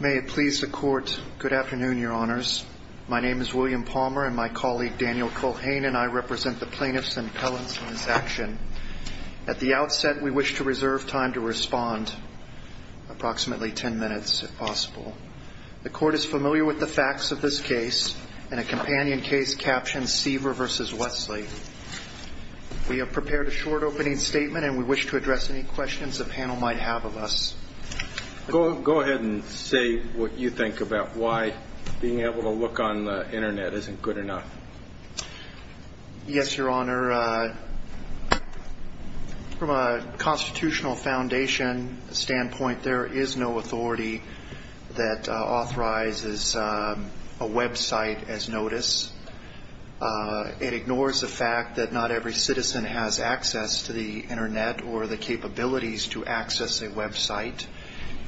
May it please the court, good afternoon, your honors. My name is William Palmer and my colleague, Daniel Culhane, and I represent the plaintiffs and appellants in this action. At the outset, we wish to reserve time to respond, approximately 10 minutes, if possible. The court is familiar with the facts of this case. In a companion case captioned, Seaver v. Westly. We have prepared a short opening statement and we wish to address any questions the panel might have of us. Go ahead and say what you think about why being able to look on the Internet isn't good enough. Yes, your honor. From a constitutional foundation standpoint, there is no authority that authorizes a website as notice. It ignores the fact that not every citizen has access to the Internet or the capabilities to access a website.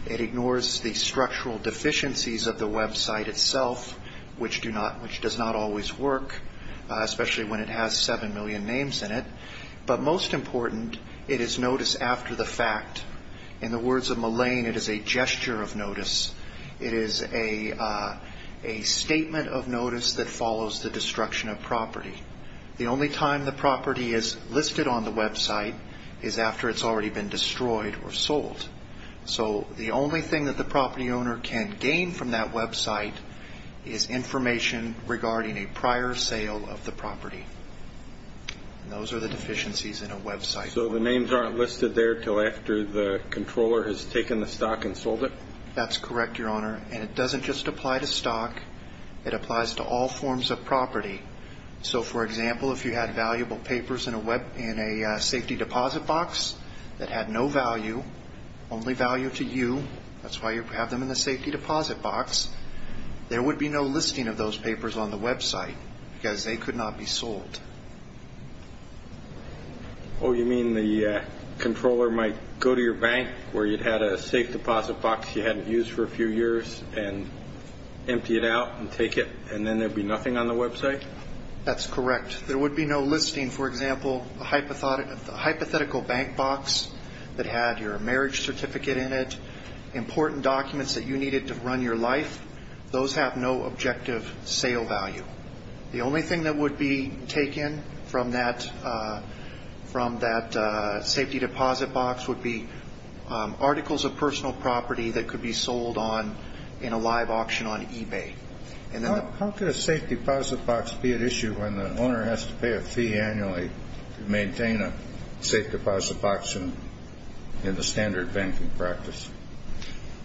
It ignores the structural deficiencies of the website itself, which does not always work, especially when it has 7 million names in it. But most important, it is notice after the fact. In the words of Mullane, it is a gesture of notice. It is a statement of notice that follows the destruction of property. The only time the property is listed on the website is after it's already been destroyed or sold. So the only thing that the property owner can gain from that website is information regarding a prior sale of the property. And those are the deficiencies in a website. So the names aren't listed there until after the controller has taken the stock and sold it? That's correct, your honor. And it doesn't just apply to stock. It applies to all forms of property. So, for example, if you had valuable papers in a safety deposit box that had no value, only value to you, that's why you have them in the safety deposit box, there would be no listing of those papers on the website because they could not be sold. Oh, you mean the controller might go to your bank where you'd had a safe deposit box you hadn't used for a few years and empty it out and take it, and then there'd be nothing on the website? That's correct. There would be no listing. For example, a hypothetical bank box that had your marriage certificate in it, important documents that you needed to run your life, those have no objective sale value. The only thing that would be taken from that safety deposit box would be articles of personal property that could be sold in a live auction on eBay. How could a safety deposit box be at issue when the owner has to pay a fee annually to maintain a safe deposit box in the standard banking practice?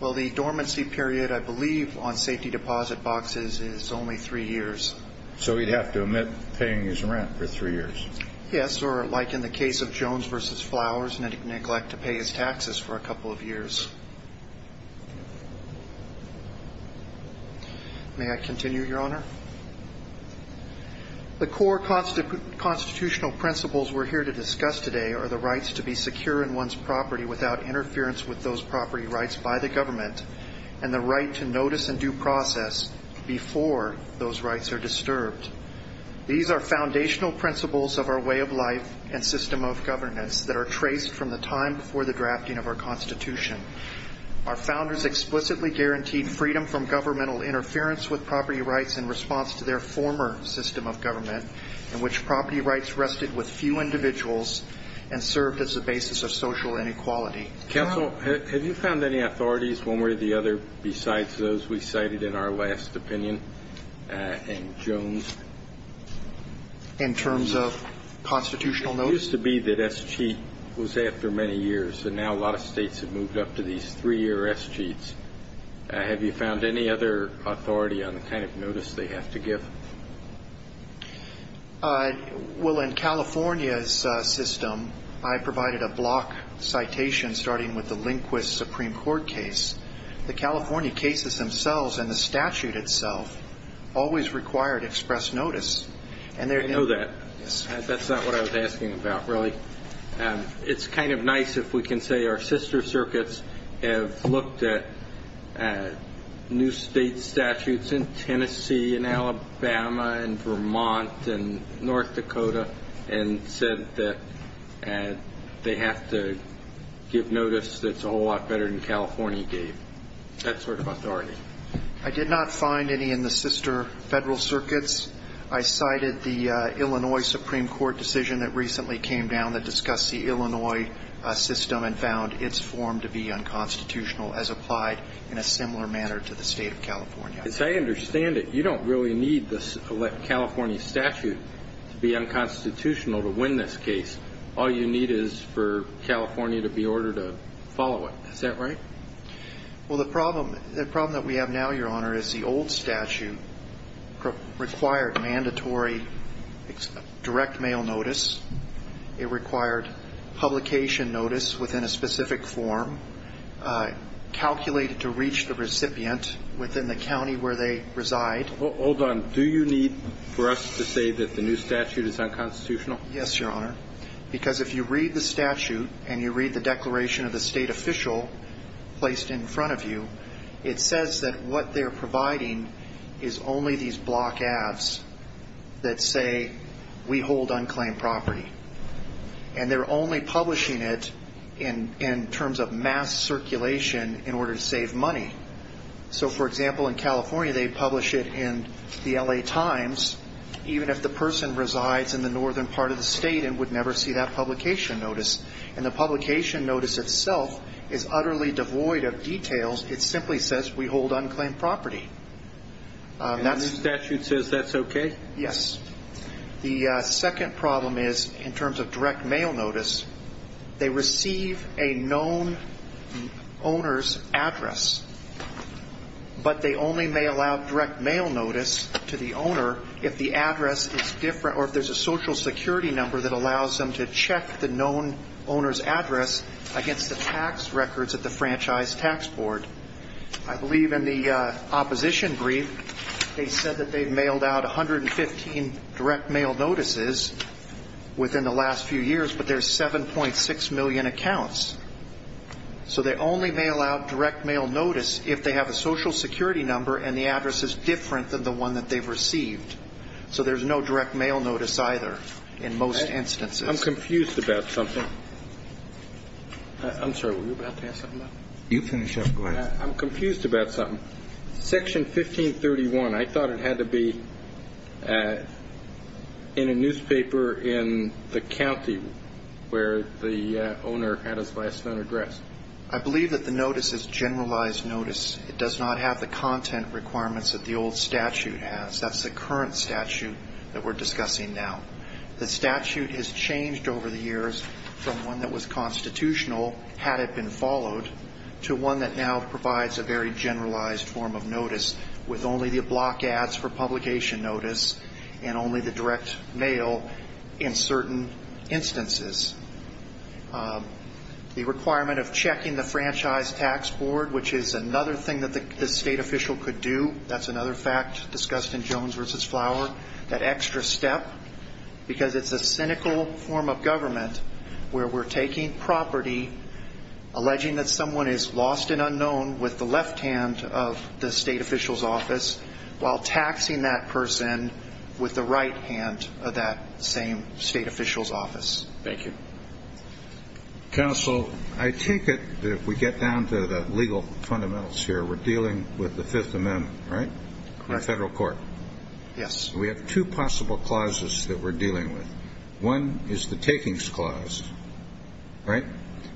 Well, the dormancy period, I believe, on safety deposit boxes is only three years. So he'd have to omit paying his rent for three years? Yes, or like in the case of Jones v. Flowers, neglect to pay his taxes for a couple of years. May I continue, Your Honor? The core constitutional principles we're here to discuss today are the rights to be secure in one's property without interference with those property rights by the government, and the right to notice and due process before those rights are disturbed. These are foundational principles of our way of life and system of governance that are traced from the time before the drafting of our Constitution. Our founders explicitly guaranteed freedom from governmental interference with property rights in response to their former system of government, in which property rights rested with few individuals and served as a basis of social inequality. Counsel, have you found any authorities, one way or the other, besides those we cited in our last opinion in Jones? In terms of constitutional notice? It used to be that S.C. was after many years, and now a lot of states have moved up to these three-year S.C.s. Have you found any other authority on the kind of notice they have to give? Well, in California's system, I provided a block citation starting with the Lindquist Supreme Court case. The California cases themselves and the statute itself always required express notice. I know that. That's not what I was asking about, really. It's kind of nice if we can say our sister circuits have looked at new state statutes in Tennessee and Alabama and Vermont and North Dakota and said that they have to give notice that's a whole lot better than California gave. That sort of authority. I did not find any in the sister federal circuits. I cited the Illinois Supreme Court decision that recently came down that discussed the Illinois system and found its form to be unconstitutional as applied in a similar manner to the state of California. As I understand it, you don't really need the California statute to be unconstitutional to win this case. All you need is for California to be ordered to follow it. Is that right? Well, the problem that we have now, Your Honor, is the old statute required mandatory direct mail notice. It required publication notice within a specific form calculated to reach the recipient within the county where they reside. Hold on. Do you need for us to say that the new statute is unconstitutional? Yes, Your Honor. Because if you read the statute and you read the declaration of the state official placed in front of you, it says that what they're providing is only these block ads that say we hold unclaimed property. And they're only publishing it in terms of mass circulation in order to save money. So, for example, in California they publish it in the L.A. Times, even if the person resides in the northern part of the state and would never see that publication notice. And the publication notice itself is utterly devoid of details. It simply says we hold unclaimed property. And the new statute says that's okay? Yes. The second problem is in terms of direct mail notice, they receive a known owner's address, but they only mail out direct mail notice to the owner if the address is different or if there's a Social Security number that allows them to check the known owner's address against the tax records at the Franchise Tax Board. I believe in the opposition brief they said that they've mailed out 115 direct mail notices within the last few years, but there's 7.6 million accounts. So they only mail out direct mail notice if they have a Social Security number and the address is different than the one that they've received. So there's no direct mail notice either in most instances. I'm confused about something. I'm sorry, were you about to ask something? You finish up. Go ahead. I'm confused about something. Section 1531, I thought it had to be in a newspaper in the county where the owner had his last known address. I believe that the notice is a generalized notice. It does not have the content requirements that the old statute has. That's the current statute that we're discussing now. The statute has changed over the years from one that was constitutional, had it been followed, to one that now provides a very generalized form of notice with only the block ads for publication notice and only the direct mail in certain instances. The requirement of checking the Franchise Tax Board, which is another thing that the state official could do, that's another fact discussed in Jones v. Flower, that extra step, because it's a cynical form of government where we're taking property, alleging that someone is lost and unknown with the left hand of the state official's office, while taxing that person with the right hand of that same state official's office. Thank you. Counsel, I take it that if we get down to the legal fundamentals here, we're dealing with the Fifth Amendment, right? Correct. In federal court. Yes. And we have two possible clauses that we're dealing with. One is the Takings Clause, right?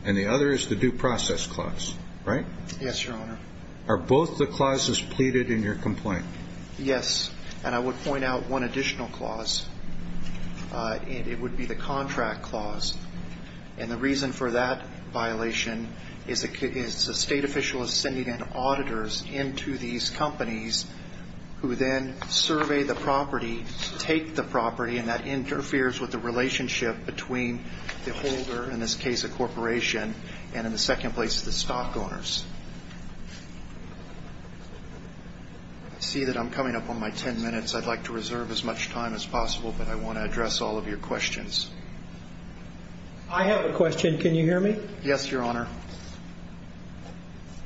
And the other is the Due Process Clause, right? Yes, Your Honor. Are both the clauses pleaded in your complaint? Yes. And I would point out one additional clause, and it would be the Contract Clause. And the reason for that violation is a state official is sending in auditors into these companies who then survey the property, take the property, and that interferes with the relationship between the holder, in this case a corporation, and in the second place the stock owners. I see that I'm coming up on my ten minutes. I'd like to reserve as much time as possible, but I want to address all of your questions. I have a question. Can you hear me? Yes, Your Honor.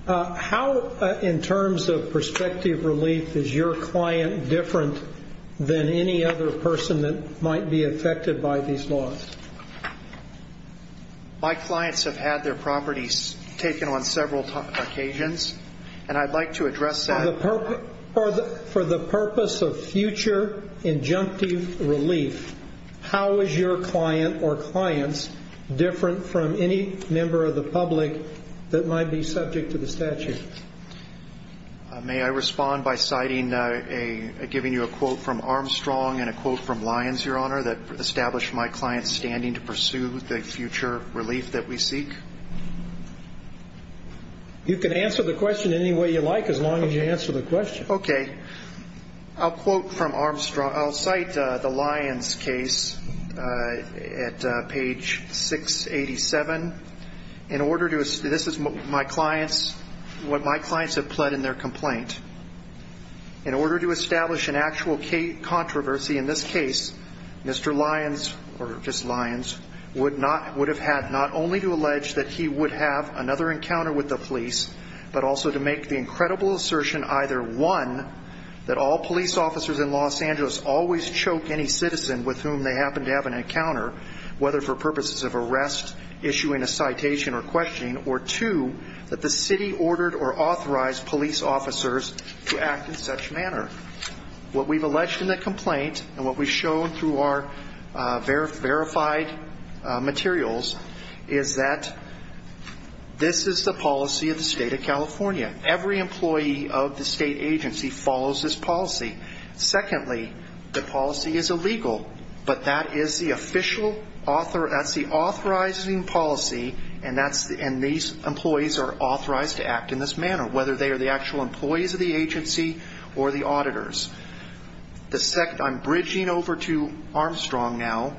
How, in terms of prospective relief, is your client different than any other person that might be affected by these laws? My clients have had their properties taken on several occasions, and I'd like to address that. For the purpose of future injunctive relief, how is your client or clients different from any member of the public that might be subject to the statute? May I respond by citing a, giving you a quote from Armstrong and a quote from Lyons, Your Honor, that established my client's standing to pursue the future relief that we seek? You can answer the question any way you like as long as you answer the question. Okay. I'll quote from Armstrong. I'll cite the Lyons case at page 687. This is what my clients have pled in their complaint. In order to establish an actual controversy in this case, Mr. Lyons, or just Lyons, would have had not only to allege that he would have another encounter with the police, but also to make the incredible assertion either, one, that all police officers in Los Angeles always choke any citizen with whom they happen to have an encounter, whether for purposes of arrest, issuing a citation or questioning, or two, that the city ordered or authorized police officers to act in such manner. What we've alleged in the complaint and what we've shown through our verified materials is that this is the policy of the state of California. Every employee of the state agency follows this policy. Secondly, the policy is illegal, but that is the authorizing policy, and these employees are authorized to act in this manner, whether they are the actual employees of the agency or the auditors. I'm bridging over to Armstrong now,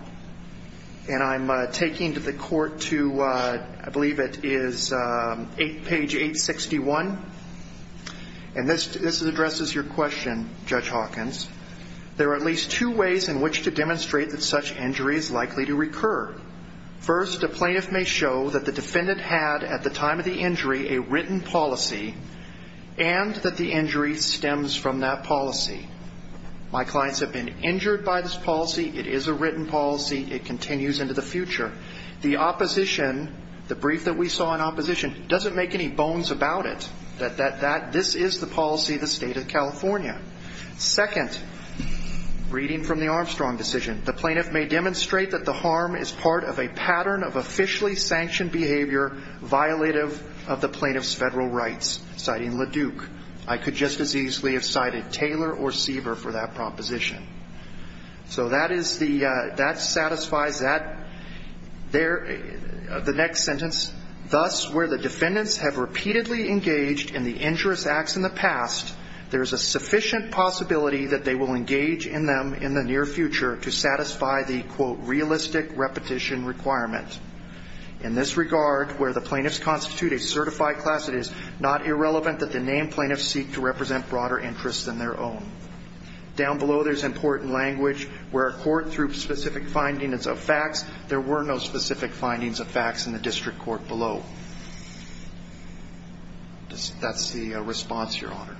and I'm taking the court to, I believe it is page 861, and this addresses your question, Judge Hawkins. There are at least two ways in which to demonstrate that such injury is likely to recur. First, a plaintiff may show that the defendant had at the time of the injury a written policy and that the injury stems from that policy. My clients have been injured by this policy. It is a written policy. It continues into the future. The opposition, the brief that we saw in opposition, doesn't make any bones about it that this is the policy of the state of California. Second, reading from the Armstrong decision, the plaintiff may demonstrate that the harm is part of a pattern of officially sanctioned behavior violative of the plaintiff's federal rights, citing LaDuke. I could just as easily have cited Taylor or Seaver for that proposition. So that satisfies the next sentence. Thus, where the defendants have repeatedly engaged in the injurious acts in the past, there is a sufficient possibility that they will engage in them in the near future to satisfy the, quote, realistic repetition requirement. In this regard, where the plaintiffs constitute a certified class, it is not irrelevant that the named plaintiffs seek to represent broader interests than their own. Down below, there's important language where a court, through specific findings of facts, there were no specific findings of facts in the district court below. That's the response, Your Honor.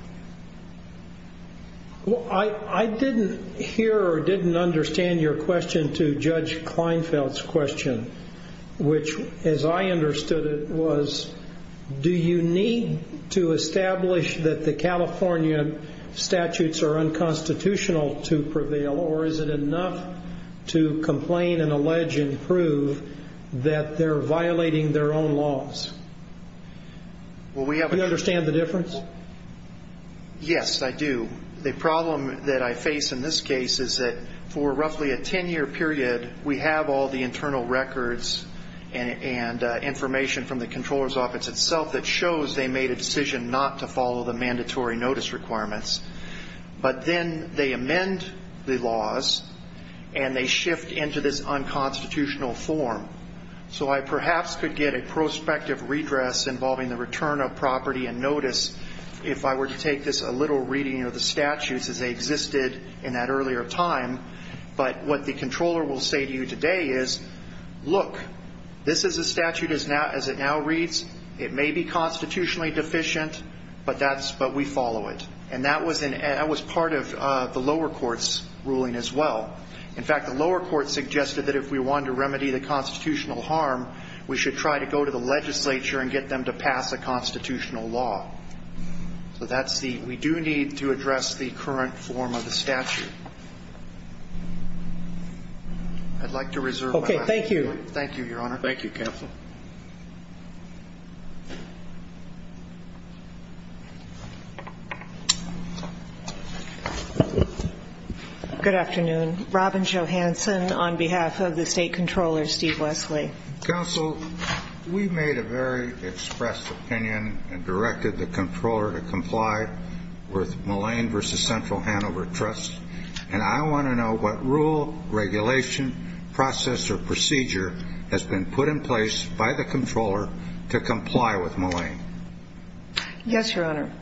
Well, I didn't hear or didn't understand your question to Judge Kleinfeld's question, which, as I understood it, was do you need to establish that the California statutes are unconstitutional to prevail, or is it enough to complain and allege and prove that they're violating their own laws? Do you understand the difference? Yes, I do. The problem that I face in this case is that for roughly a 10-year period, we have all the internal records and information from the comptroller's office itself that shows they made a decision not to follow the mandatory notice requirements. But then they amend the laws, and they shift into this unconstitutional form. So I perhaps could get a prospective redress involving the return of property and notice if I were to take this a little reading of the statutes as they existed in that earlier time. But what the controller will say to you today is, look, this is a statute as it now reads. It may be constitutionally deficient, but we follow it. And that was part of the lower court's ruling as well. In fact, the lower court suggested that if we wanted to remedy the constitutional harm, we should try to go to the legislature and get them to pass a constitutional law. So that's the we do need to address the current form of the statute. I'd like to reserve my time. Okay, thank you. Thank you, Your Honor. Thank you, counsel. Good afternoon. Robin Johanson on behalf of the state controller, Steve Wesley. Counsel, we've made a very expressed opinion and directed the controller to comply with Mullane v. Central Hanover Trust. And I want to know what rule, regulation, process, or procedure has been put in place by the controller to comply with Mullane. Yes, Your Honor.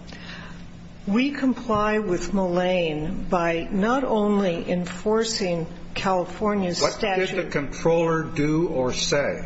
We comply with Mullane by not only enforcing California's statute. What did the controller do or say?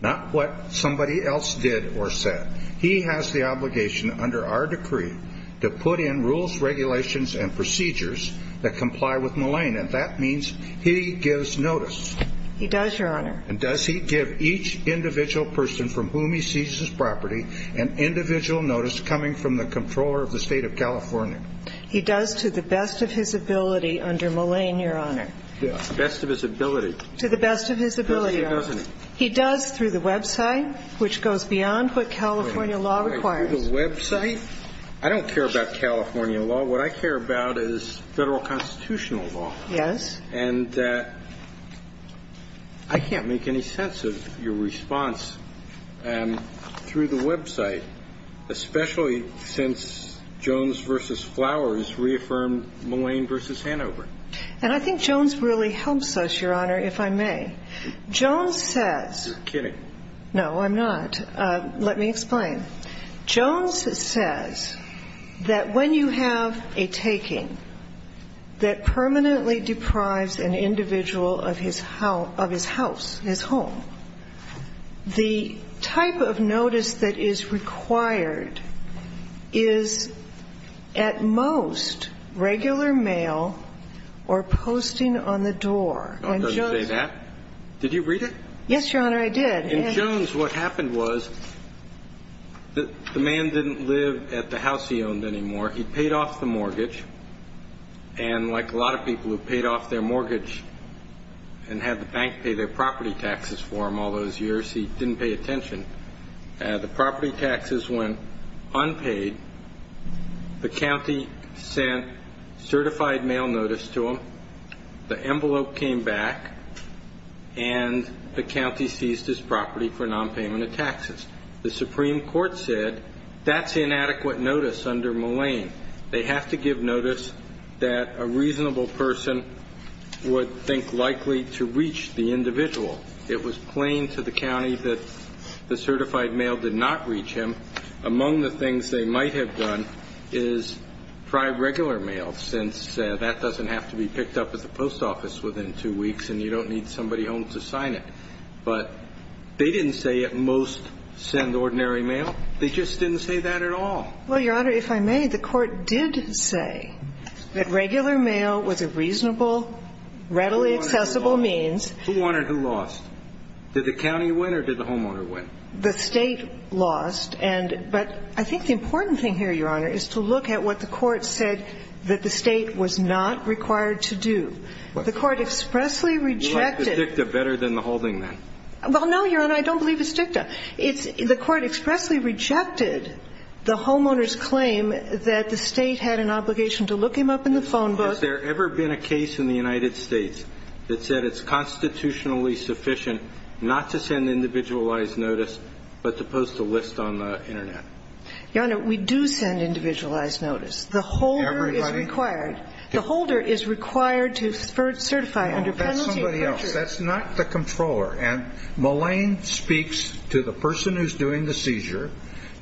Not what somebody else did or said. He has the obligation under our decree to put in rules, regulations, and procedures that comply with Mullane. And that means he gives notice. He does, Your Honor. And does he give each individual person from whom he seizes property an individual notice coming from the controller of the State of California? He does to the best of his ability under Mullane, Your Honor. The best of his ability. To the best of his ability, Your Honor. Doesn't he? He does through the website, which goes beyond what California law requires. Through the website? I don't care about California law. What I care about is Federal constitutional law. Yes. And I can't make any sense of your response through the website, especially since Jones v. Flowers reaffirmed Mullane v. Hanover. And I think Jones really helps us, Your Honor, if I may. Jones says. You're kidding. No, I'm not. Let me explain. Jones says that when you have a taking that permanently deprives an individual of his house, his home, the type of notice that is required is at most regular mail or posting on the door. And Jones. Did you read it? Yes, Your Honor, I did. In Jones, what happened was the man didn't live at the house he owned anymore. He paid off the mortgage. And like a lot of people who paid off their mortgage and had the bank pay their property taxes for them all those years, he didn't pay attention. The property taxes went unpaid. The county sent certified mail notice to him. The envelope came back, and the county seized his property for nonpayment of taxes. The Supreme Court said that's inadequate notice under Mullane. They have to give notice that a reasonable person would think likely to reach the individual. It was plain to the county that the certified mail did not reach him. Among the things they might have done is try regular mail since that doesn't have to be picked up at the post office within two weeks, and you don't need somebody home to sign it. But they didn't say at most send ordinary mail. They just didn't say that at all. Well, Your Honor, if I may, the court did say that regular mail was a reasonable, readily accessible means. Who won or who lost? Did the county win or did the homeowner win? The state lost. But I think the important thing here, Your Honor, is to look at what the court said that the state was not required to do. The court expressly rejected the homeowner's claim that the state had an obligation to look him up in the phone book. Well, no, Your Honor, I don't believe it's dicta. The court expressly rejected the homeowner's claim that the state had an obligation to look him up in the phone book. Has there ever been a case in the United States that said it's constitutionally sufficient not to send individualized notice but to post a list on the Internet? Your Honor, we do send individualized notice. The holder is required. Everybody? The holder is required to certify under penalty. No, that's somebody else. That's not the controller. And Mullane speaks to the person who's doing the seizure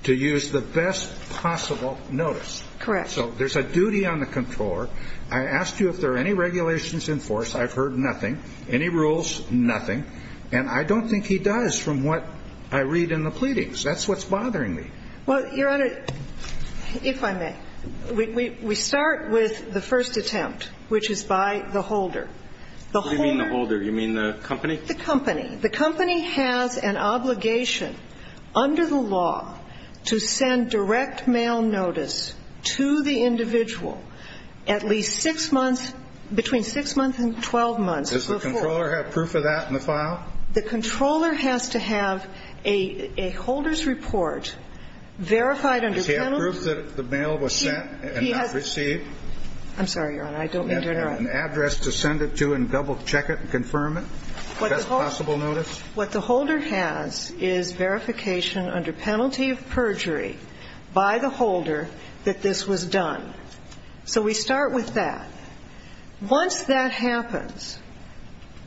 to use the best possible notice. Correct. So there's a duty on the controller. I asked you if there are any regulations in force. I've heard nothing. Any rules? Nothing. And I don't think he does from what I read in the pleadings. That's what's bothering me. Well, Your Honor, if I may, we start with the first attempt, which is by the holder. What do you mean the holder? You mean the company? The company. The company has an obligation under the law to send direct mail notice to the individual at least six months, between six months and 12 months before. Does the controller have proof of that in the file? The controller has to have a holder's report verified under penalty. Does he have proof that the mail was sent and not received? I'm sorry, Your Honor, I don't mean to interrupt. Does he have an address to send it to and double-check it and confirm it? Best possible notice? What the holder has is verification under penalty of perjury by the holder that this was done. So we start with that. Once that happens,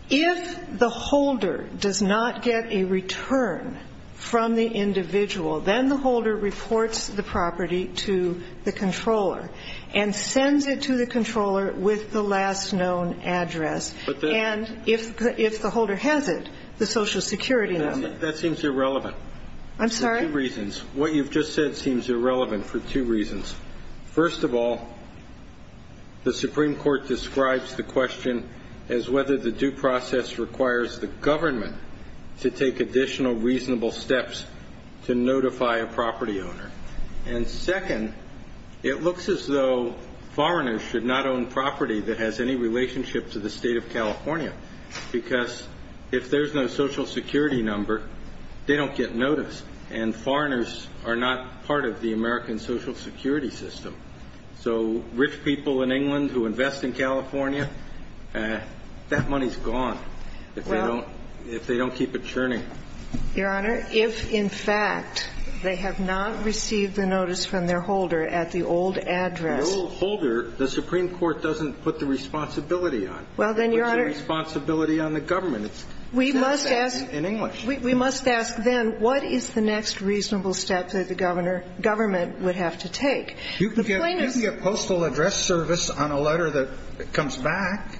if the holder does not get a return from the individual, then the holder reports the property to the controller and sends it to the controller with the last known address. And if the holder has it, the Social Security number. That seems irrelevant. I'm sorry? For two reasons. What you've just said seems irrelevant for two reasons. First of all, the Supreme Court describes the question as whether the due process requires the government to take additional reasonable steps to notify a property owner. And second, it looks as though foreigners should not own property that has any relationship to the State of California, because if there's no Social Security number, they don't get notice, and foreigners are not part of the American Social Security system. So rich people in England who invest in California, that money's gone if they don't keep it churning. Your Honor, if in fact they have not received the notice from their holder at the old address. The old holder, the Supreme Court doesn't put the responsibility on. Well, then, Your Honor. It puts the responsibility on the government. We must ask. In English. We must ask, then, what is the next reasonable step that the government would have to take? You can give me a postal address service on a letter that comes back.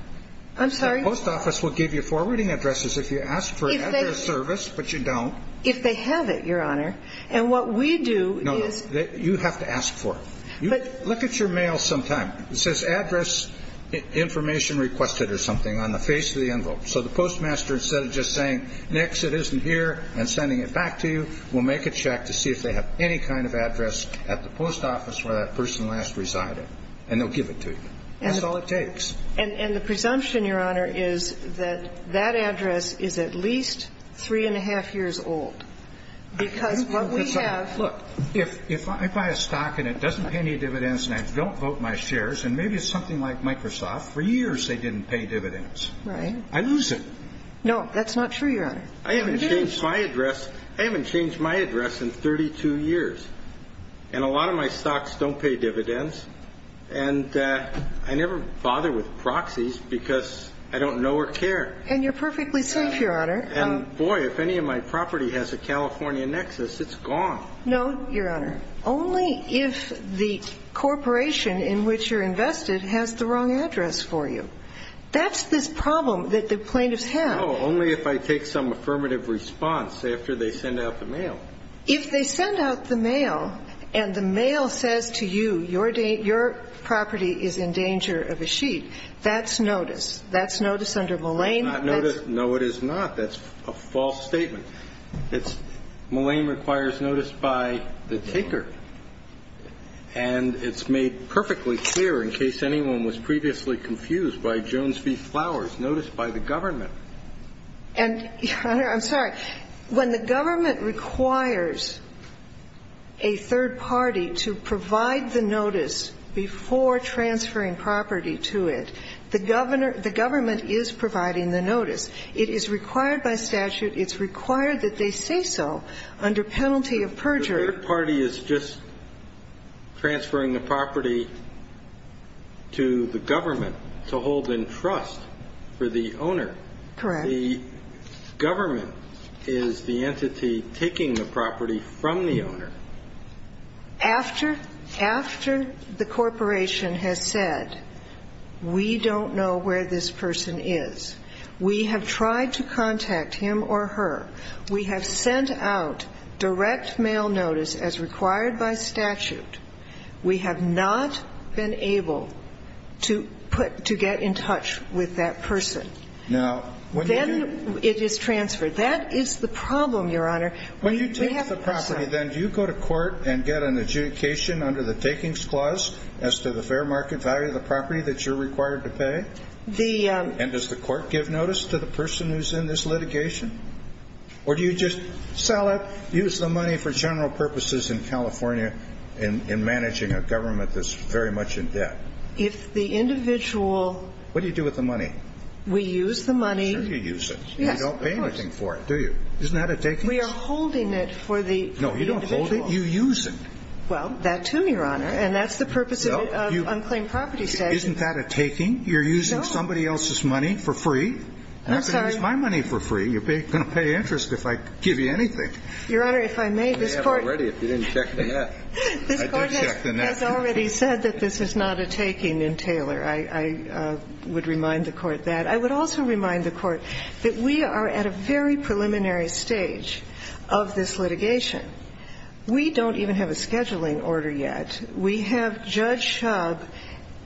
I'm sorry? The post office will give you forwarding addresses if you ask for an address service, but you don't. If they have it, Your Honor. And what we do is. No, no. You have to ask for it. Look at your mail sometime. It says address information requested or something on the face of the envelope. So the postmaster, instead of just saying, next, it isn't here, and sending it back to you, will make a check to see if they have any kind of address at the post office where that person last resided. And they'll give it to you. That's all it takes. And the presumption, Your Honor, is that that address is at least three and a half years old. Because what we have. Look, if I buy a stock and it doesn't pay any dividends and I don't vote my shares, and maybe it's something like Microsoft, for years they didn't pay dividends. I lose it. No, that's not true, Your Honor. I haven't changed my address. I haven't changed my address in 32 years. And a lot of my stocks don't pay dividends. And I never bother with proxies because I don't know or care. And you're perfectly safe, Your Honor. And, boy, if any of my property has a California nexus, it's gone. No, Your Honor. Only if the corporation in which you're invested has the wrong address for you. That's this problem that the plaintiffs have. No, only if I take some affirmative response after they send out the mail. If they send out the mail and the mail says to you, your property is in danger of a sheet, that's notice. That's notice under Mullane. That's not notice. No, it is not. That's a false statement. Mullane requires notice by the taker. And it's made perfectly clear, in case anyone was previously confused, by Jones v. Flowers, notice by the government. And, Your Honor, I'm sorry. When the government requires a third party to provide the notice before transferring property to it, the governor – the government is providing the notice. It is required by statute. It's required that they say so under penalty of perjury. The third party is just transferring the property to the government to hold in trust for the owner. Correct. The government is the entity taking the property from the owner. After the corporation has said, we don't know where this person is, we have tried to contact him or her. We have sent out direct mail notice as required by statute. We have not been able to put – to get in touch with that person. Now, when you do – Then it is transferred. That is the problem, Your Honor. When you take the property, then, do you go to court and get an adjudication under the takings clause as to the fair market value of the property that you're required to pay? The – Or do you just sell it, use the money for general purposes in California in managing a government that's very much in debt? If the individual – What do you do with the money? We use the money. Sure you use it. Yes, of course. You don't pay anything for it, do you? Isn't that a takings? We are holding it for the individual. No, you don't hold it. You use it. Well, that too, Your Honor. And that's the purpose of unclaimed property statute. Isn't that a taking? No. You're using somebody else's money for free. I'm sorry. It's my money for free. You're going to pay interest if I give you anything. Your Honor, if I may, this Court – I may have already if you didn't check the net. I did check the net. This Court has already said that this is not a taking in Taylor. I would remind the Court that. I would also remind the Court that we are at a very preliminary stage of this litigation. We don't even have a scheduling order yet. We have Judge Shub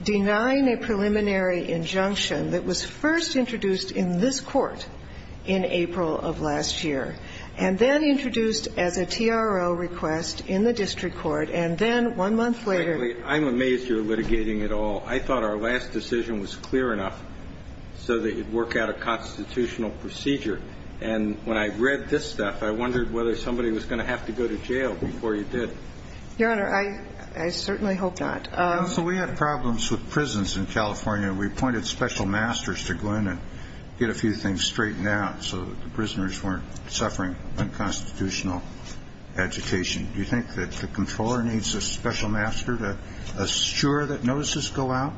denying a preliminary injunction that was first introduced in this Court in April of last year, and then introduced as a TRO request in the district court, and then one month later – Frankly, I'm amazed you're litigating it all. I thought our last decision was clear enough so that you'd work out a constitutional procedure. And when I read this stuff, I wondered whether somebody was going to have to go to jail before you did. Your Honor, I certainly hope not. Counsel, we had problems with prisons in California. We appointed special masters to go in and get a few things straightened out so that the prisoners weren't suffering unconstitutional education. Do you think that the Comptroller needs a special master to assure that notices go out?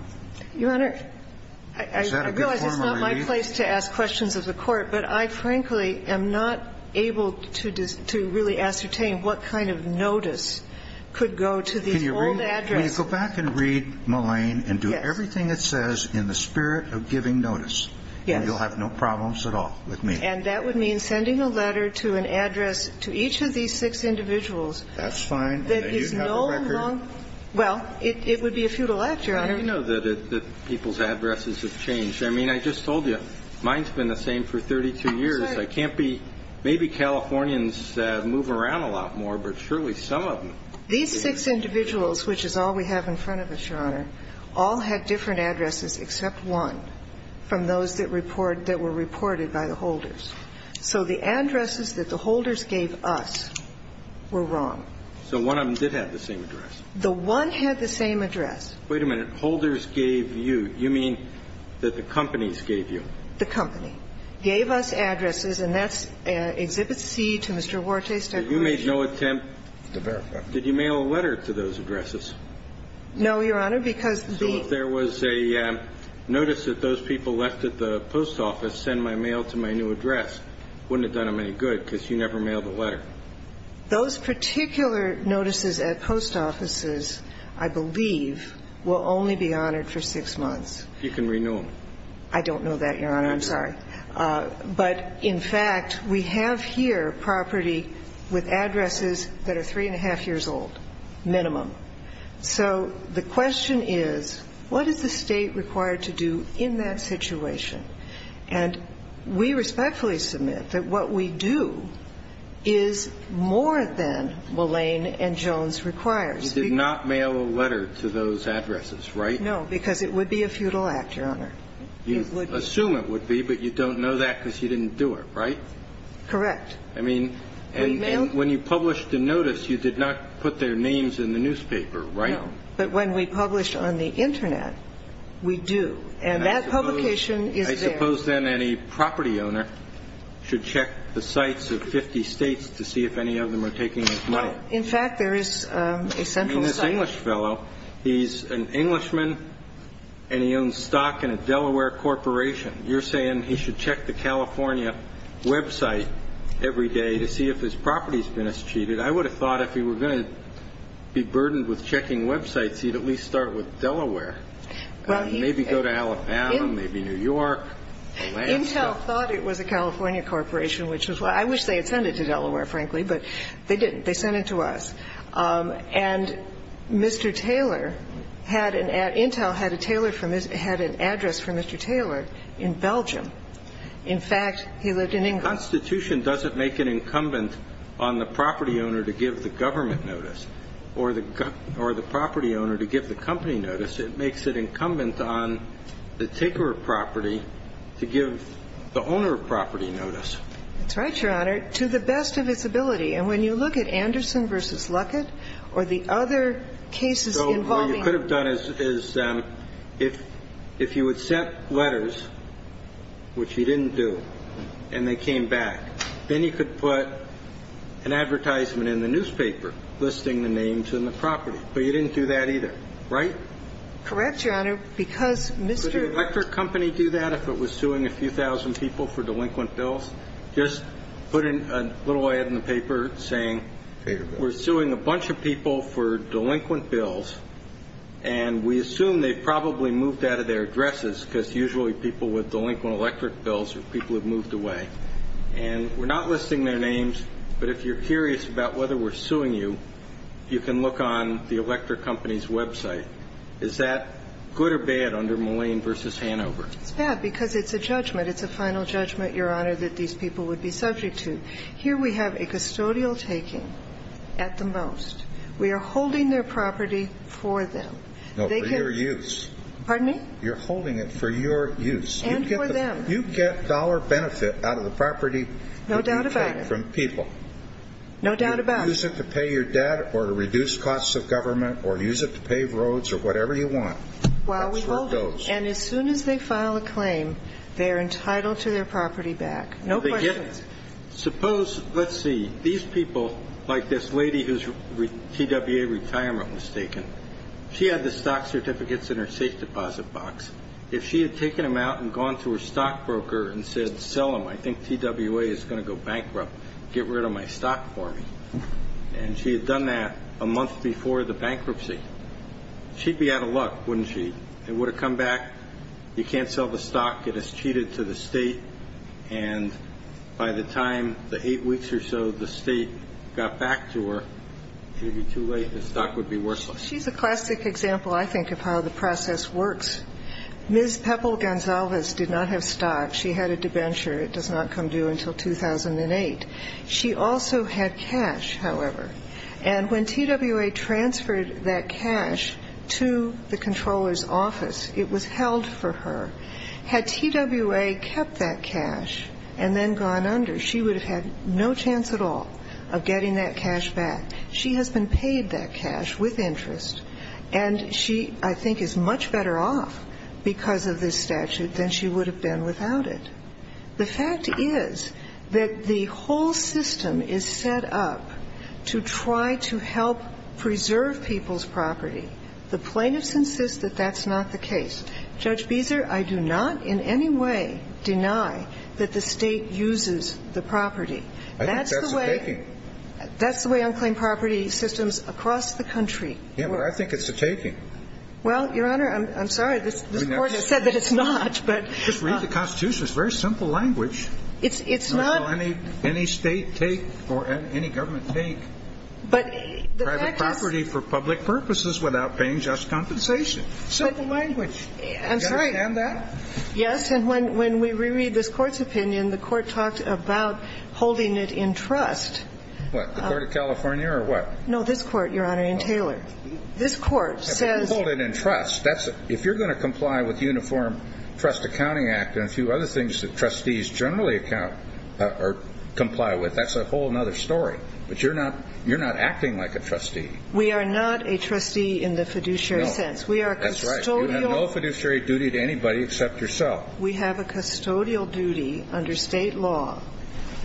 Your Honor, I realize it's not my place to ask questions of the Court, but I frankly am not able to really ascertain what kind of notice could go to these old addresses. Can you go back and read Mullane and do everything it says in the spirit of giving notice. Yes. And you'll have no problems at all with me. And that would mean sending a letter to an address to each of these six individuals that is no longer – That's fine. Well, it would be a futile act, Your Honor. How do you know that people's addresses have changed? I mean, I just told you. Mine's been the same for 32 years. I can't be – maybe Californians move around a lot more, but surely some of them. These six individuals, which is all we have in front of us, Your Honor, all had different addresses except one from those that were reported by the holders. So the addresses that the holders gave us were wrong. So one of them did have the same address. The one had the same address. Wait a minute. Holders gave you. You mean that the companies gave you. The company. The company gave us addresses, and that's Exhibit C to Mr. Huerta's declaration. But you made no attempt to verify. Did you mail a letter to those addresses? No, Your Honor, because the – So if there was a notice that those people left at the post office send my mail to my new address, wouldn't it have done them any good because you never mailed a letter? Those particular notices at post offices, I believe, will only be honored for six You can renew them. I don't know that, Your Honor. I'm sorry. But, in fact, we have here property with addresses that are three and a half years old minimum. So the question is, what is the State required to do in that situation? And we respectfully submit that what we do is more than Mullane and Jones requires. You did not mail a letter to those addresses, right? No, because it would be a futile act, Your Honor. You assume it would be, but you don't know that because you didn't do it, right? Correct. I mean, when you published the notice, you did not put their names in the newspaper, right? No. But when we publish on the Internet, we do. And that publication is there. I suppose then any property owner should check the sites of 50 States to see if any of them are taking this money. In fact, there is a central site. And so you're saying that's where the State should be checking. You're saying, I mean, this is a young English fellow. He's an Englishman and he owns stock in a Delaware corporation. You're saying he should check the California website every day to see if his property has been cheated. I would have thought if he were going to be burdened with checking websites, he'd at least start with Delaware and maybe go to Alabama, maybe New York. Intel thought it was a California corporation, which is why I wish they had sent it to Delaware, frankly, but they didn't. They sent it to us. And Mr. Taylor had an address for Mr. Taylor in Belgium. In fact, he lived in England. The Constitution doesn't make it incumbent on the property owner to give the government notice or the property owner to give the company notice. It makes it incumbent on the taker of property to give the owner of property notice. That's right, Your Honor, to the best of its ability. And when you look at Anderson v. Luckett or the other cases involving them. So what you could have done is if you had sent letters, which you didn't do, and they came back, then you could put an advertisement in the newspaper listing the names and the property. But you didn't do that either, right? Correct, Your Honor, because Mr. Would the electric company do that if it was suing a few thousand people for delinquent bills? Just put a little ad in the paper saying we're suing a bunch of people for delinquent bills, and we assume they probably moved out of their addresses because usually people with delinquent electric bills are people who have moved away. And we're not listing their names, but if you're curious about whether we're suing you, you can look on the electric company's website. Is that good or bad under Mullane v. Hanover? It's bad because it's a judgment. It's a final judgment, Your Honor, that these people would be subject to. Here we have a custodial taking at the most. We are holding their property for them. No, for your use. Pardon me? You're holding it for your use. And for them. You get dollar benefit out of the property that you take from people. No doubt about it. No doubt about it. Use it to pay your debt or to reduce costs of government or use it to pave roads or whatever you want. That's where it goes. Well, we hold it. And as soon as they file a claim, they're entitled to their property back. No questions. Suppose, let's see, these people, like this lady whose TWA retirement was taken, she had the stock certificates in her safe deposit box. If she had taken them out and gone to her stockbroker and said, sell them, I think TWA is going to go bankrupt. Get rid of my stock for me. And she had done that a month before the bankruptcy. She'd be out of luck, wouldn't she? It would have come back. You can't sell the stock. It has cheated to the state. And by the time the eight weeks or so the state got back to her, it would be too late. The stock would be worthless. She's a classic example, I think, of how the process works. Ms. Peppel-Gonzalez did not have stock. She had a debenture. It does not come due until 2008. She also had cash, however. And when TWA transferred that cash to the Comptroller's office, it was held for her. Had TWA kept that cash and then gone under, she would have had no chance at all of getting that cash back. She has been paid that cash with interest, and she, I think, is much better off because of this statute than she would have been without it. The fact is that the whole system is set up to try to help preserve people's property. The plaintiffs insist that that's not the case. Judge Beezer, I do not in any way deny that the State uses the property. That's the way unclaimed property systems across the country work. Yeah, but I think it's a taking. Well, Your Honor, I'm sorry. This Court has said that it's not. Just read the Constitution. It's very simple language. It's not. Any State take or any government take private property for public purposes without paying just compensation. Simple language. Do you understand that? Yes. And when we reread this Court's opinion, the Court talked about holding it in trust. What, the Court of California or what? No, this Court, Your Honor, in Taylor. This Court says. Hold it in trust. If you're going to comply with Uniform Trust Accounting Act and a few other things that trustees generally comply with, that's a whole other story. But you're not acting like a trustee. We are not a trustee in the fiduciary sense. No. That's right. You have no fiduciary duty to anybody except yourself. We have a custodial duty under State law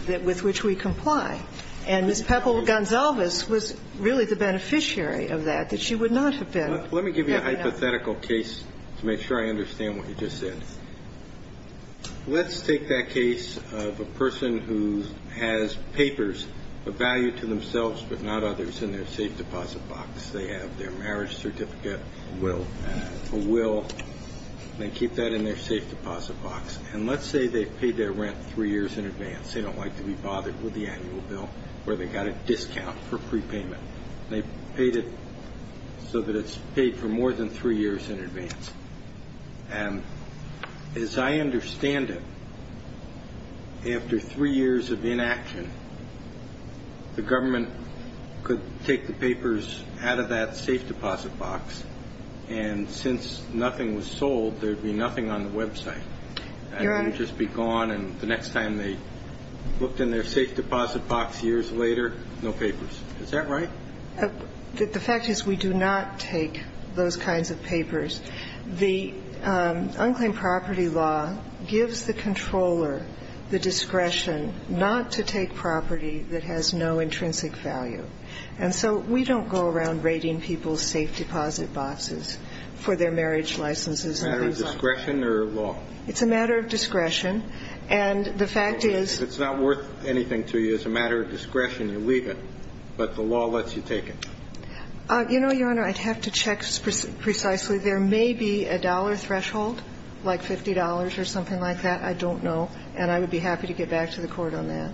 with which we comply. And Ms. Peppel-Gonzalez was really the beneficiary of that, that she would not have let me give you a hypothetical case to make sure I understand what you just said. Let's take that case of a person who has papers of value to themselves but not others in their safe deposit box. They have their marriage certificate, a will, and they keep that in their safe deposit box. And let's say they've paid their rent three years in advance. They don't like to be bothered with the annual bill where they got a discount for prepayment. They paid it so that it's paid for more than three years in advance. And as I understand it, after three years of inaction, the government could take the papers out of that safe deposit box, and since nothing was sold, there would be nothing on the website. And it would just be gone. And the next time they looked in their safe deposit box years later, no papers. Is that right? The fact is we do not take those kinds of papers. The unclaimed property law gives the controller the discretion not to take property that has no intrinsic value. And so we don't go around rating people's safe deposit boxes for their marriage licenses and things like that. It's a matter of discretion or law? It's a matter of discretion. And the fact is that it's not worth anything to you. It's a matter of discretion. You leave it. But the law lets you take it. You know, Your Honor, I'd have to check precisely. There may be a dollar threshold, like $50 or something like that. I don't know. And I would be happy to get back to the Court on that.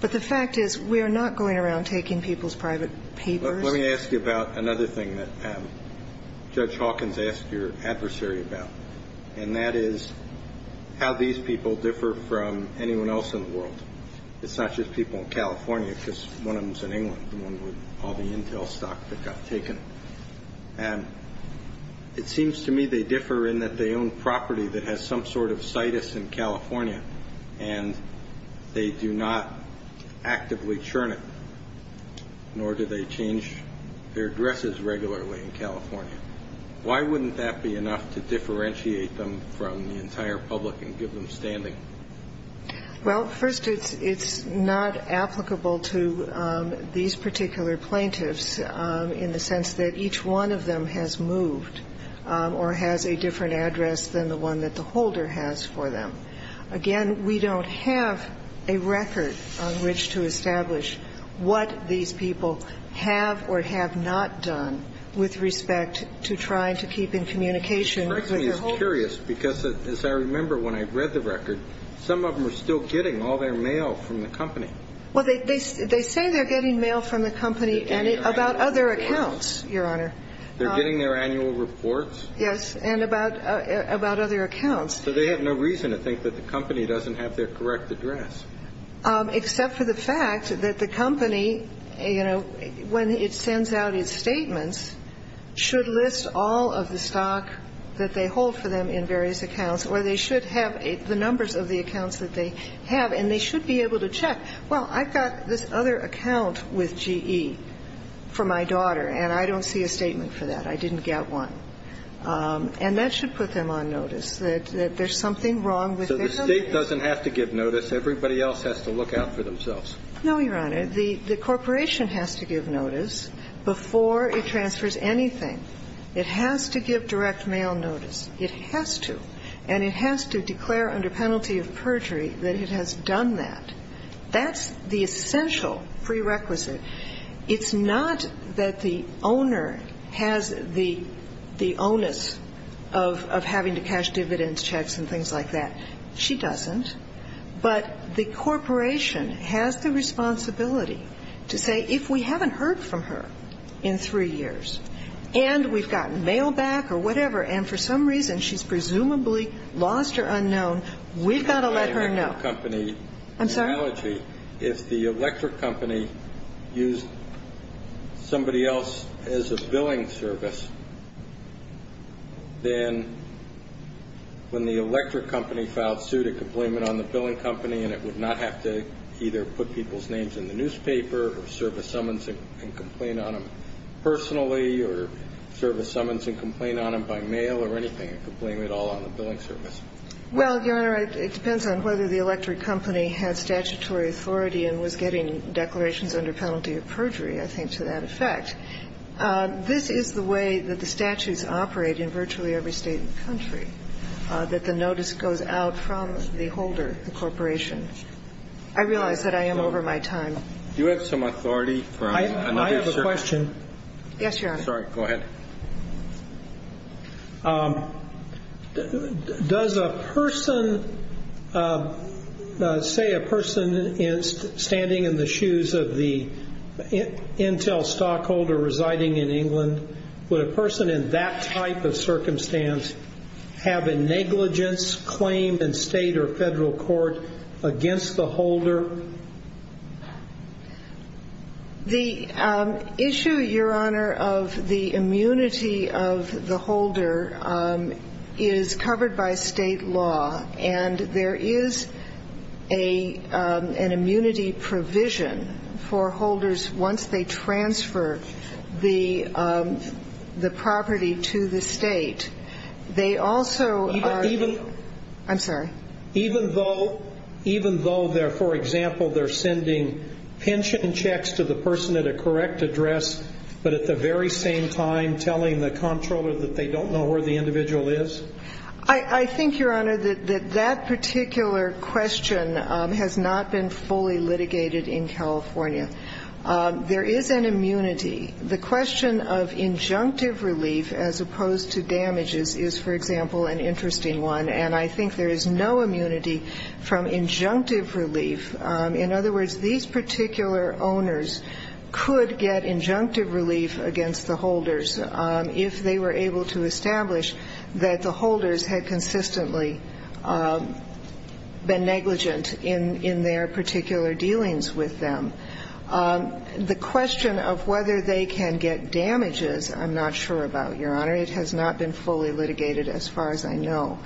But the fact is we are not going around taking people's private papers. Let me ask you about another thing that Judge Hawkins asked your adversary about, and that is how these people differ from anyone else in the world. It's not just people in California, because one of them is in England, the one with all the intel stock that got taken. And it seems to me they differ in that they own property that has some sort of situs in California, and they do not actively churn it, nor do they change their dresses regularly in California. Why wouldn't that be enough to differentiate them from the entire public and give them standing? Well, first, it's not applicable to these particular plaintiffs in the sense that each one of them has moved or has a different address than the one that the holder has for them. Again, we don't have a record on which to establish what these people have or have not done with respect to trying to keep in communication with their holders. I'm just curious, because as I remember when I read the record, some of them are still getting all their mail from the company. Well, they say they're getting mail from the company about other accounts, Your Honor. They're getting their annual reports? Yes, and about other accounts. So they have no reason to think that the company doesn't have their correct address. Except for the fact that the company, you know, when it sends out its statements, should list all of the stock that they hold for them in various accounts, or they should have the numbers of the accounts that they have, and they should be able to check. Well, I've got this other account with GE for my daughter, and I don't see a statement for that. I didn't get one. And that should put them on notice that there's something wrong with their numbers. So the State doesn't have to give notice. Everybody else has to look out for themselves. No, Your Honor. The corporation has to give notice before it transfers anything. It has to give direct mail notice. It has to. And it has to declare under penalty of perjury that it has done that. That's the essential prerequisite. It's not that the owner has the onus of having to cash dividends, checks and things like that. She doesn't. But the corporation has the responsibility to say, if we haven't heard from her in three years, and we've gotten mail back or whatever, and for some reason she's presumably lost or unknown, we've got to let her know. That's not an electric company analogy. I'm sorry? If the electric company used somebody else as a billing service, then when the electric company had statutory authority and was getting declarations under penalty of perjury, I think to that effect, this is the way that the statutes operate in virtually every State in the country, that the notice goes out from the holder It's that the owner has to give notice. I realize that I am over my time. Do you have some authority? I have a question. Yes, Your Honor. Sorry. Go ahead. Does a person, say a person standing in the shoes of the Intel stockholder residing in England, would a person in that type of circumstance have a negligence claim in State or Federal court against the holder? The issue, Your Honor, of the immunity of the holder is covered by State law, and there is an immunity provision for holders once they transfer the property to the State. They also are I'm sorry? Even though, for example, they're sending pension checks to the person at a correct address, but at the very same time telling the comptroller that they don't know where the individual is? I think, Your Honor, that that particular question has not been fully litigated in California. There is an immunity. The question of injunctive relief as opposed to damages is, for example, an interesting one, and I think there is no immunity from injunctive relief. In other words, these particular owners could get injunctive relief against the holders if they were able to establish that the holders had consistently been negligent in their particular dealings with them. The question of whether they can get damages, I'm not sure about, Your Honor. It has not been fully litigated as far as I know.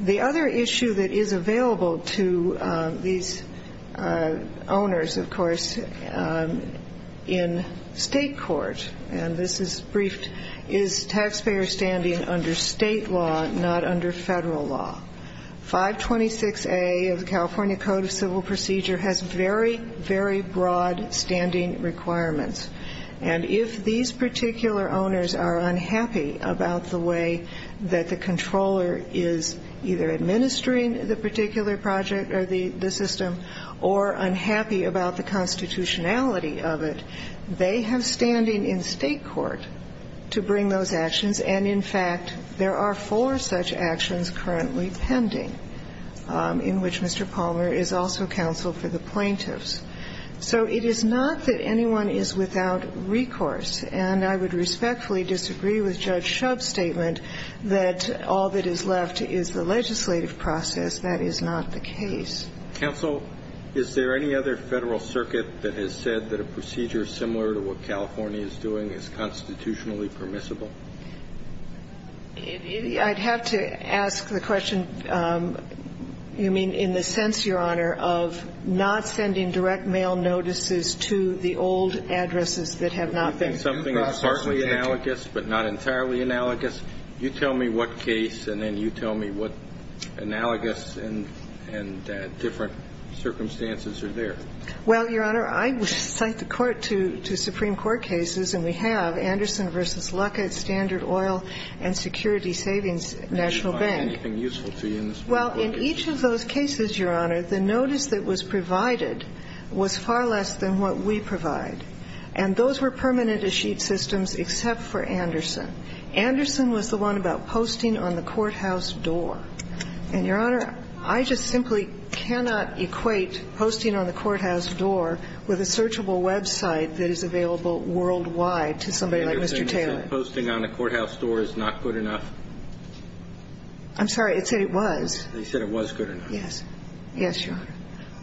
The other issue that is available to these owners, of course, in State court, and this is briefed, is taxpayer standing under State law, not under Federal law. 526A of the California Code of Civil Procedure has very, very broad standing requirements. And if these particular owners are unhappy about the way that the controller is either administering the particular project or the system or unhappy about the constitutionality of it, they have standing in State court to bring those actions. And in fact, there are four such actions currently pending, in which Mr. Palmer is also counsel for the plaintiffs. So it is not that anyone is without recourse, and I would respectfully disagree with Judge Shub's statement that all that is left is the legislative process. That is not the case. Roberts. Is there any other Federal circuit that has said that a procedure similar to what we have in the case of Anderson v. Lucket stands in State court? I'd have to ask the question, you mean in the sense, Your Honor, of not sending direct mail notices to the old addresses that have not been processed? Something partly analogous, but not entirely analogous. You tell me what case, and then you tell me what analogous and different circumstances are there. Well, Your Honor, I would cite the Court to Supreme Court cases, and we have Anderson v. Lucket, Standard Oil and Security Savings National Bank. Well, in each of those cases, Your Honor, the notice that was provided was far less than what we provide, and those were permanent escheat systems except for Anderson. Anderson was the one about posting on the courthouse door. And, Your Honor, I just simply cannot equate posting on the courthouse door with a searchable website that is available worldwide to somebody like Mr. Taylor. You're saying that posting on a courthouse door is not good enough? I'm sorry. It said it was. It said it was good enough. Yes. Yes, Your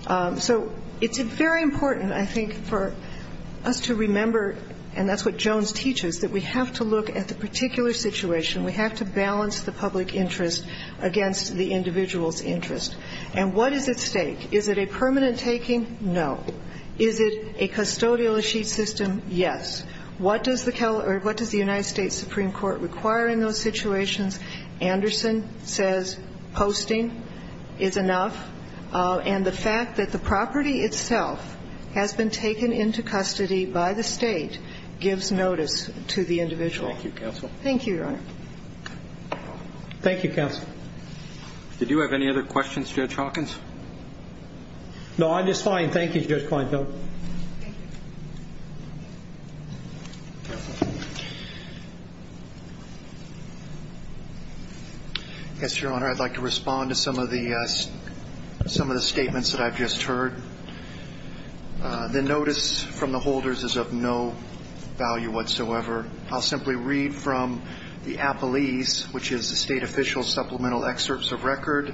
Honor. So it's very important, I think, for us to remember, and that's what Jones teaches, that we have to look at the particular situation. We have to balance the public interest against the individual's interest. And what is at stake? Is it a permanent taking? No. Is it a custodial escheat system? Yes. What does the United States Supreme Court require in those situations? Anderson says posting is enough. And the fact that the property itself has been taken into custody by the State gives notice to the individual. Thank you, counsel. Thank you, Your Honor. Thank you, counsel. Did you have any other questions, Judge Hawkins? No, I'm just fine. Thank you, Judge Kleinfeld. Yes, Your Honor. I'd like to respond to some of the statements that I've just heard. The notice from the holders is of no value whatsoever. I'll simply read from the APELES, which is the State Official Supplemental Excerpts of Record.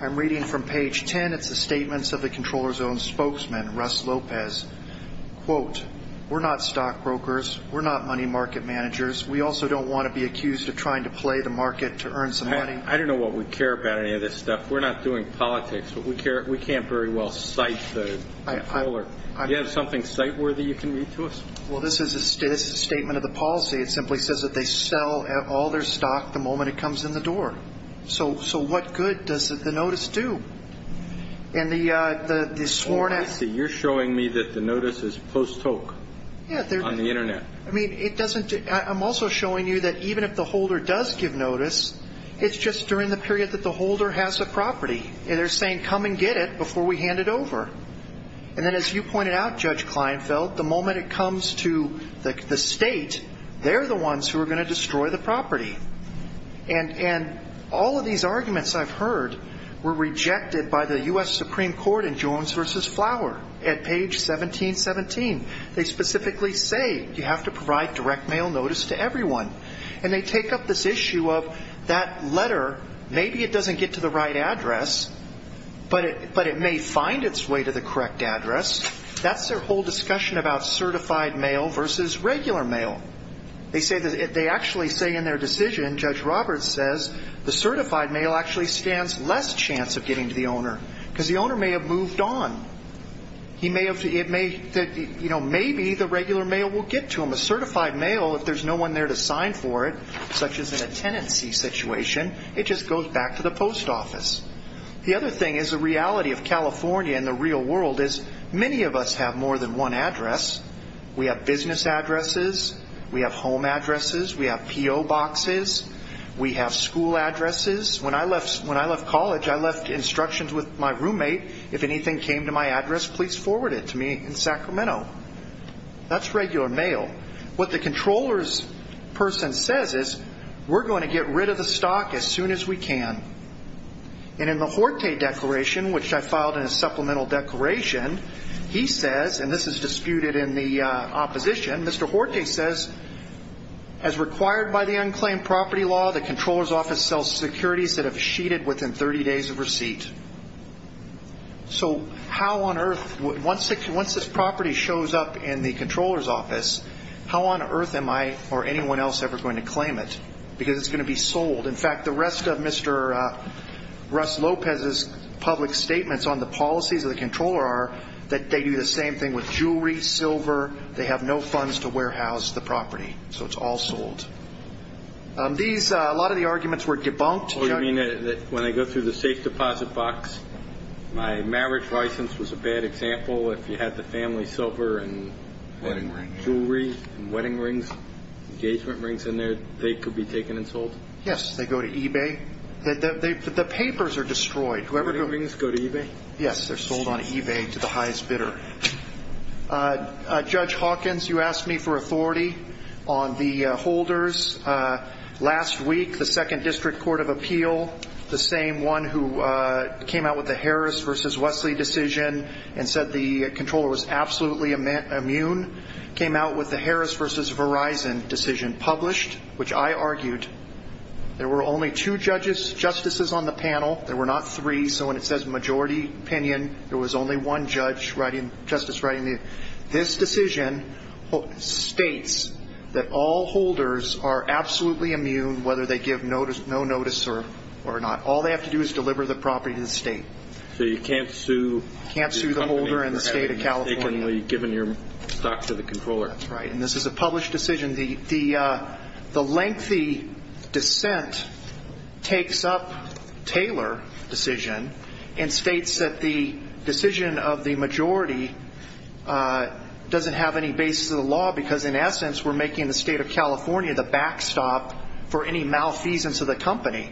I'm reading from page 10. It's the statements of the controller's own spokesman, Russ Lopez. Quote, we're not stockbrokers. We're not money market managers. We also don't want to be accused of trying to play the market to earn some money. I don't know what we care about any of this stuff. We're not doing politics, but we can't very well cite the controller. Do you have something cite-worthy you can read to us? Well, this is a statement of the policy. It simply says that they sell all their stock the moment it comes in the door. So what good does the notice do? Oh, I see. You're showing me that the notice is post-toke on the Internet. I mean, I'm also showing you that even if the holder does give notice, it's just during the period that the holder has the property. They're saying, come and get it before we hand it over. And then as you pointed out, Judge Kleinfeld, the moment it comes to the state, they're the ones who are going to destroy the property. And all of these arguments I've heard were rejected by the U.S. Supreme Court in Jones v. Flower at page 1717. They specifically say you have to provide direct mail notice to everyone. And they take up this issue of that letter, maybe it doesn't get to the right address, but it may find its way to the correct address. That's their whole discussion about certified mail versus regular mail. They actually say in their decision, Judge Roberts says, the certified mail actually stands less chance of getting to the owner because the owner may have moved on. Maybe the regular mail will get to them. A certified mail, if there's no one there to sign for it, such as in a tenancy situation, it just goes back to the post office. The other thing is the reality of California and the real world is many of us have more than one address. We have business addresses. We have home addresses. We have P.O. boxes. We have school addresses. When I left college, I left instructions with my roommate, if anything came to my address, please forward it to me in Sacramento. That's regular mail. What the controller's person says is, we're going to get rid of the stock as soon as we can. And in the Horte Declaration, which I filed in a supplemental declaration, he says, and this is disputed in the opposition, Mr. Horte says, as required by the unclaimed property law, the controller's office sells securities that have sheeted within 30 days of receipt. So how on earth, once this property shows up in the controller's office, how on earth am I or anyone else ever going to claim it? Because it's going to be sold. In fact, the rest of Mr. Russ Lopez's public statements on the policies of the controller are that they do the same thing with jewelry, silver. They have no funds to warehouse the property, so it's all sold. A lot of the arguments were debunked. When I go through the safe deposit box, my marriage license was a bad example. If you had the family silver and jewelry and wedding rings, engagement rings in there, they could be taken and sold? Yes, they go to eBay. The papers are destroyed. Wedding rings go to eBay? Yes, they're sold on eBay to the highest bidder. Judge Hawkins, you asked me for authority on the holders. Last week, the Second District Court of Appeal, the same one who came out with the Harris v. Wesley decision and said the controller was absolutely immune, came out with the Harris v. Verizon decision, published, which I argued. There were only two justices on the panel. There were not three. So when it says majority opinion, there was only one justice writing it. This decision states that all holders are absolutely immune, whether they give no notice or not. All they have to do is deliver the property to the state. So you can't sue the holder in the state of California? You can't sue the holder in the state of California. Given your stock to the controller. That's right, and this is a published decision. The lengthy dissent takes up Taylor decision and states that the decision of the majority doesn't have any basis of the law because, in essence, we're making the state of California the backstop for any malfeasance of the company.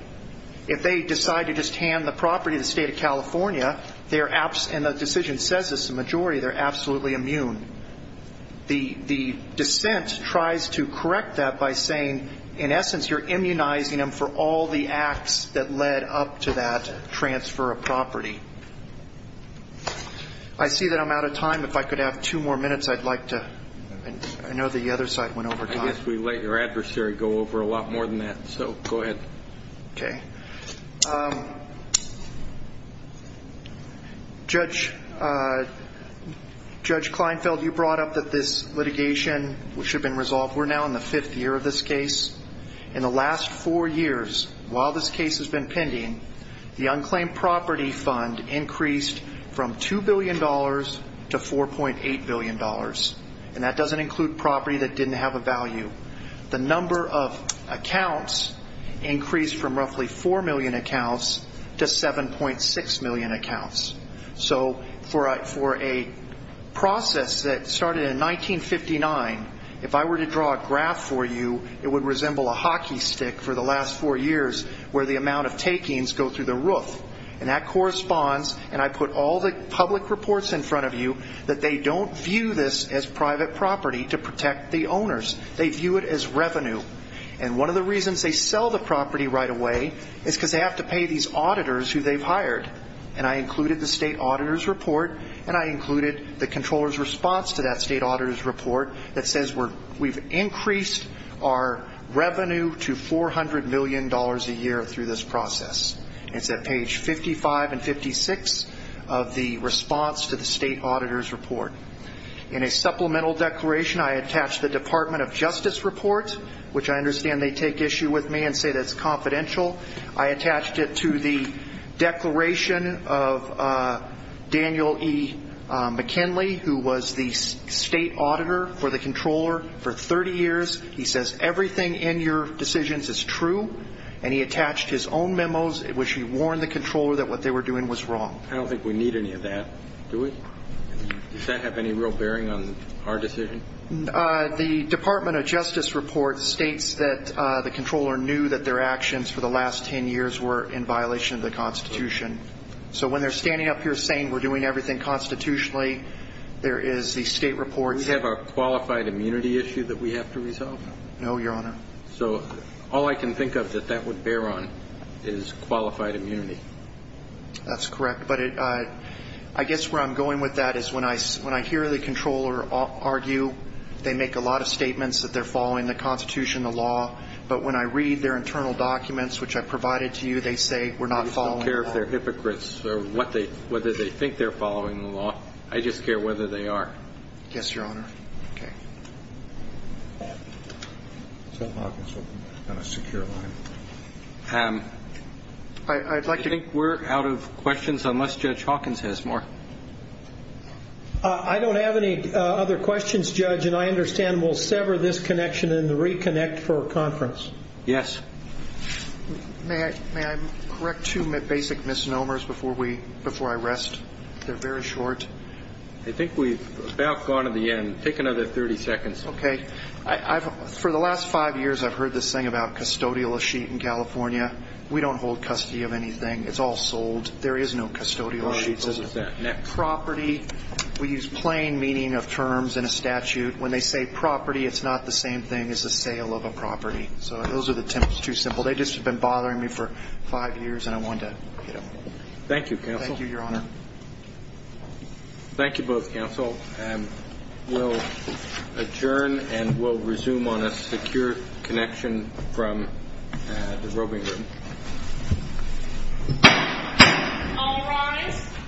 If they decide to just hand the property to the state of California, and the decision says this to the majority, they're absolutely immune. The dissent tries to correct that by saying, in essence, you're immunizing them for all the acts that led up to that transfer of property. I see that I'm out of time. If I could have two more minutes, I'd like to. I know the other side went over time. I guess we let your adversary go over a lot more than that, so go ahead. Okay. Judge Kleinfeld, you brought up that this litigation should have been resolved. We're now in the fifth year of this case. In the last four years, while this case has been pending, the unclaimed property fund increased from $2 billion to $4.8 billion, and that doesn't include property that didn't have a value. The number of accounts increased from roughly 4 million accounts to 7.6 million accounts. So for a process that started in 1959, if I were to draw a graph for you, it would resemble a hockey stick for the last four years, where the amount of takings go through the roof. And that corresponds, and I put all the public reports in front of you, that they don't view this as private property to protect the owners. They view it as revenue. And one of the reasons they sell the property right away is because they have to pay these auditors who they've hired, and I included the State Auditor's Report, and I included the Comptroller's Response to that State Auditor's Report that says we've increased our revenue to $400 million a year through this process. It's at page 55 and 56 of the response to the State Auditor's Report. In a supplemental declaration, I attached the Department of Justice report, which I understand they take issue with me and say that's confidential. I attached it to the declaration of Daniel E. McKinley, who was the State Auditor for the Comptroller for 30 years. He says everything in your decisions is true, and he attached his own memos in which he warned the Comptroller that what they were doing was wrong. I don't think we need any of that, do we? Does that have any real bearing on our decision? The Department of Justice report states that the Comptroller knew that their actions for the last 10 years were in violation of the Constitution. So when they're standing up here saying we're doing everything constitutionally, there is the State Report. Do we have a qualified immunity issue that we have to resolve? No, Your Honor. So all I can think of that that would bear on is qualified immunity. That's correct. But I guess where I'm going with that is when I hear the Comptroller argue, they make a lot of statements that they're following the Constitution, the law. But when I read their internal documents, which I provided to you, they say we're not following the law. I don't care if they're hypocrites or whether they think they're following the law. I just care whether they are. Yes, Your Honor. Okay. So Hawkins will be on a secure line. I'd like to think we're out of questions unless Judge Hawkins has more. I don't have any other questions, Judge, and I understand we'll sever this connection and reconnect for a conference. Yes. May I correct two basic misnomers before I rest? They're very short. I think we've about gone to the end. Take another 30 seconds. Okay. For the last five years I've heard this thing about custodial receipt in California. We don't hold custody of anything. It's all sold. There is no custodial receipt. All right. Close that. Next. Property, we use plain meaning of terms in a statute. When they say property, it's not the same thing as the sale of a property. So those are the two simple. They just have been bothering me for five years, and I wanted to, you know. Thank you, Counsel. Thank you, Your Honor. Thank you both, Counsel. We'll adjourn and we'll resume on a secure connection from the roving room. All rise.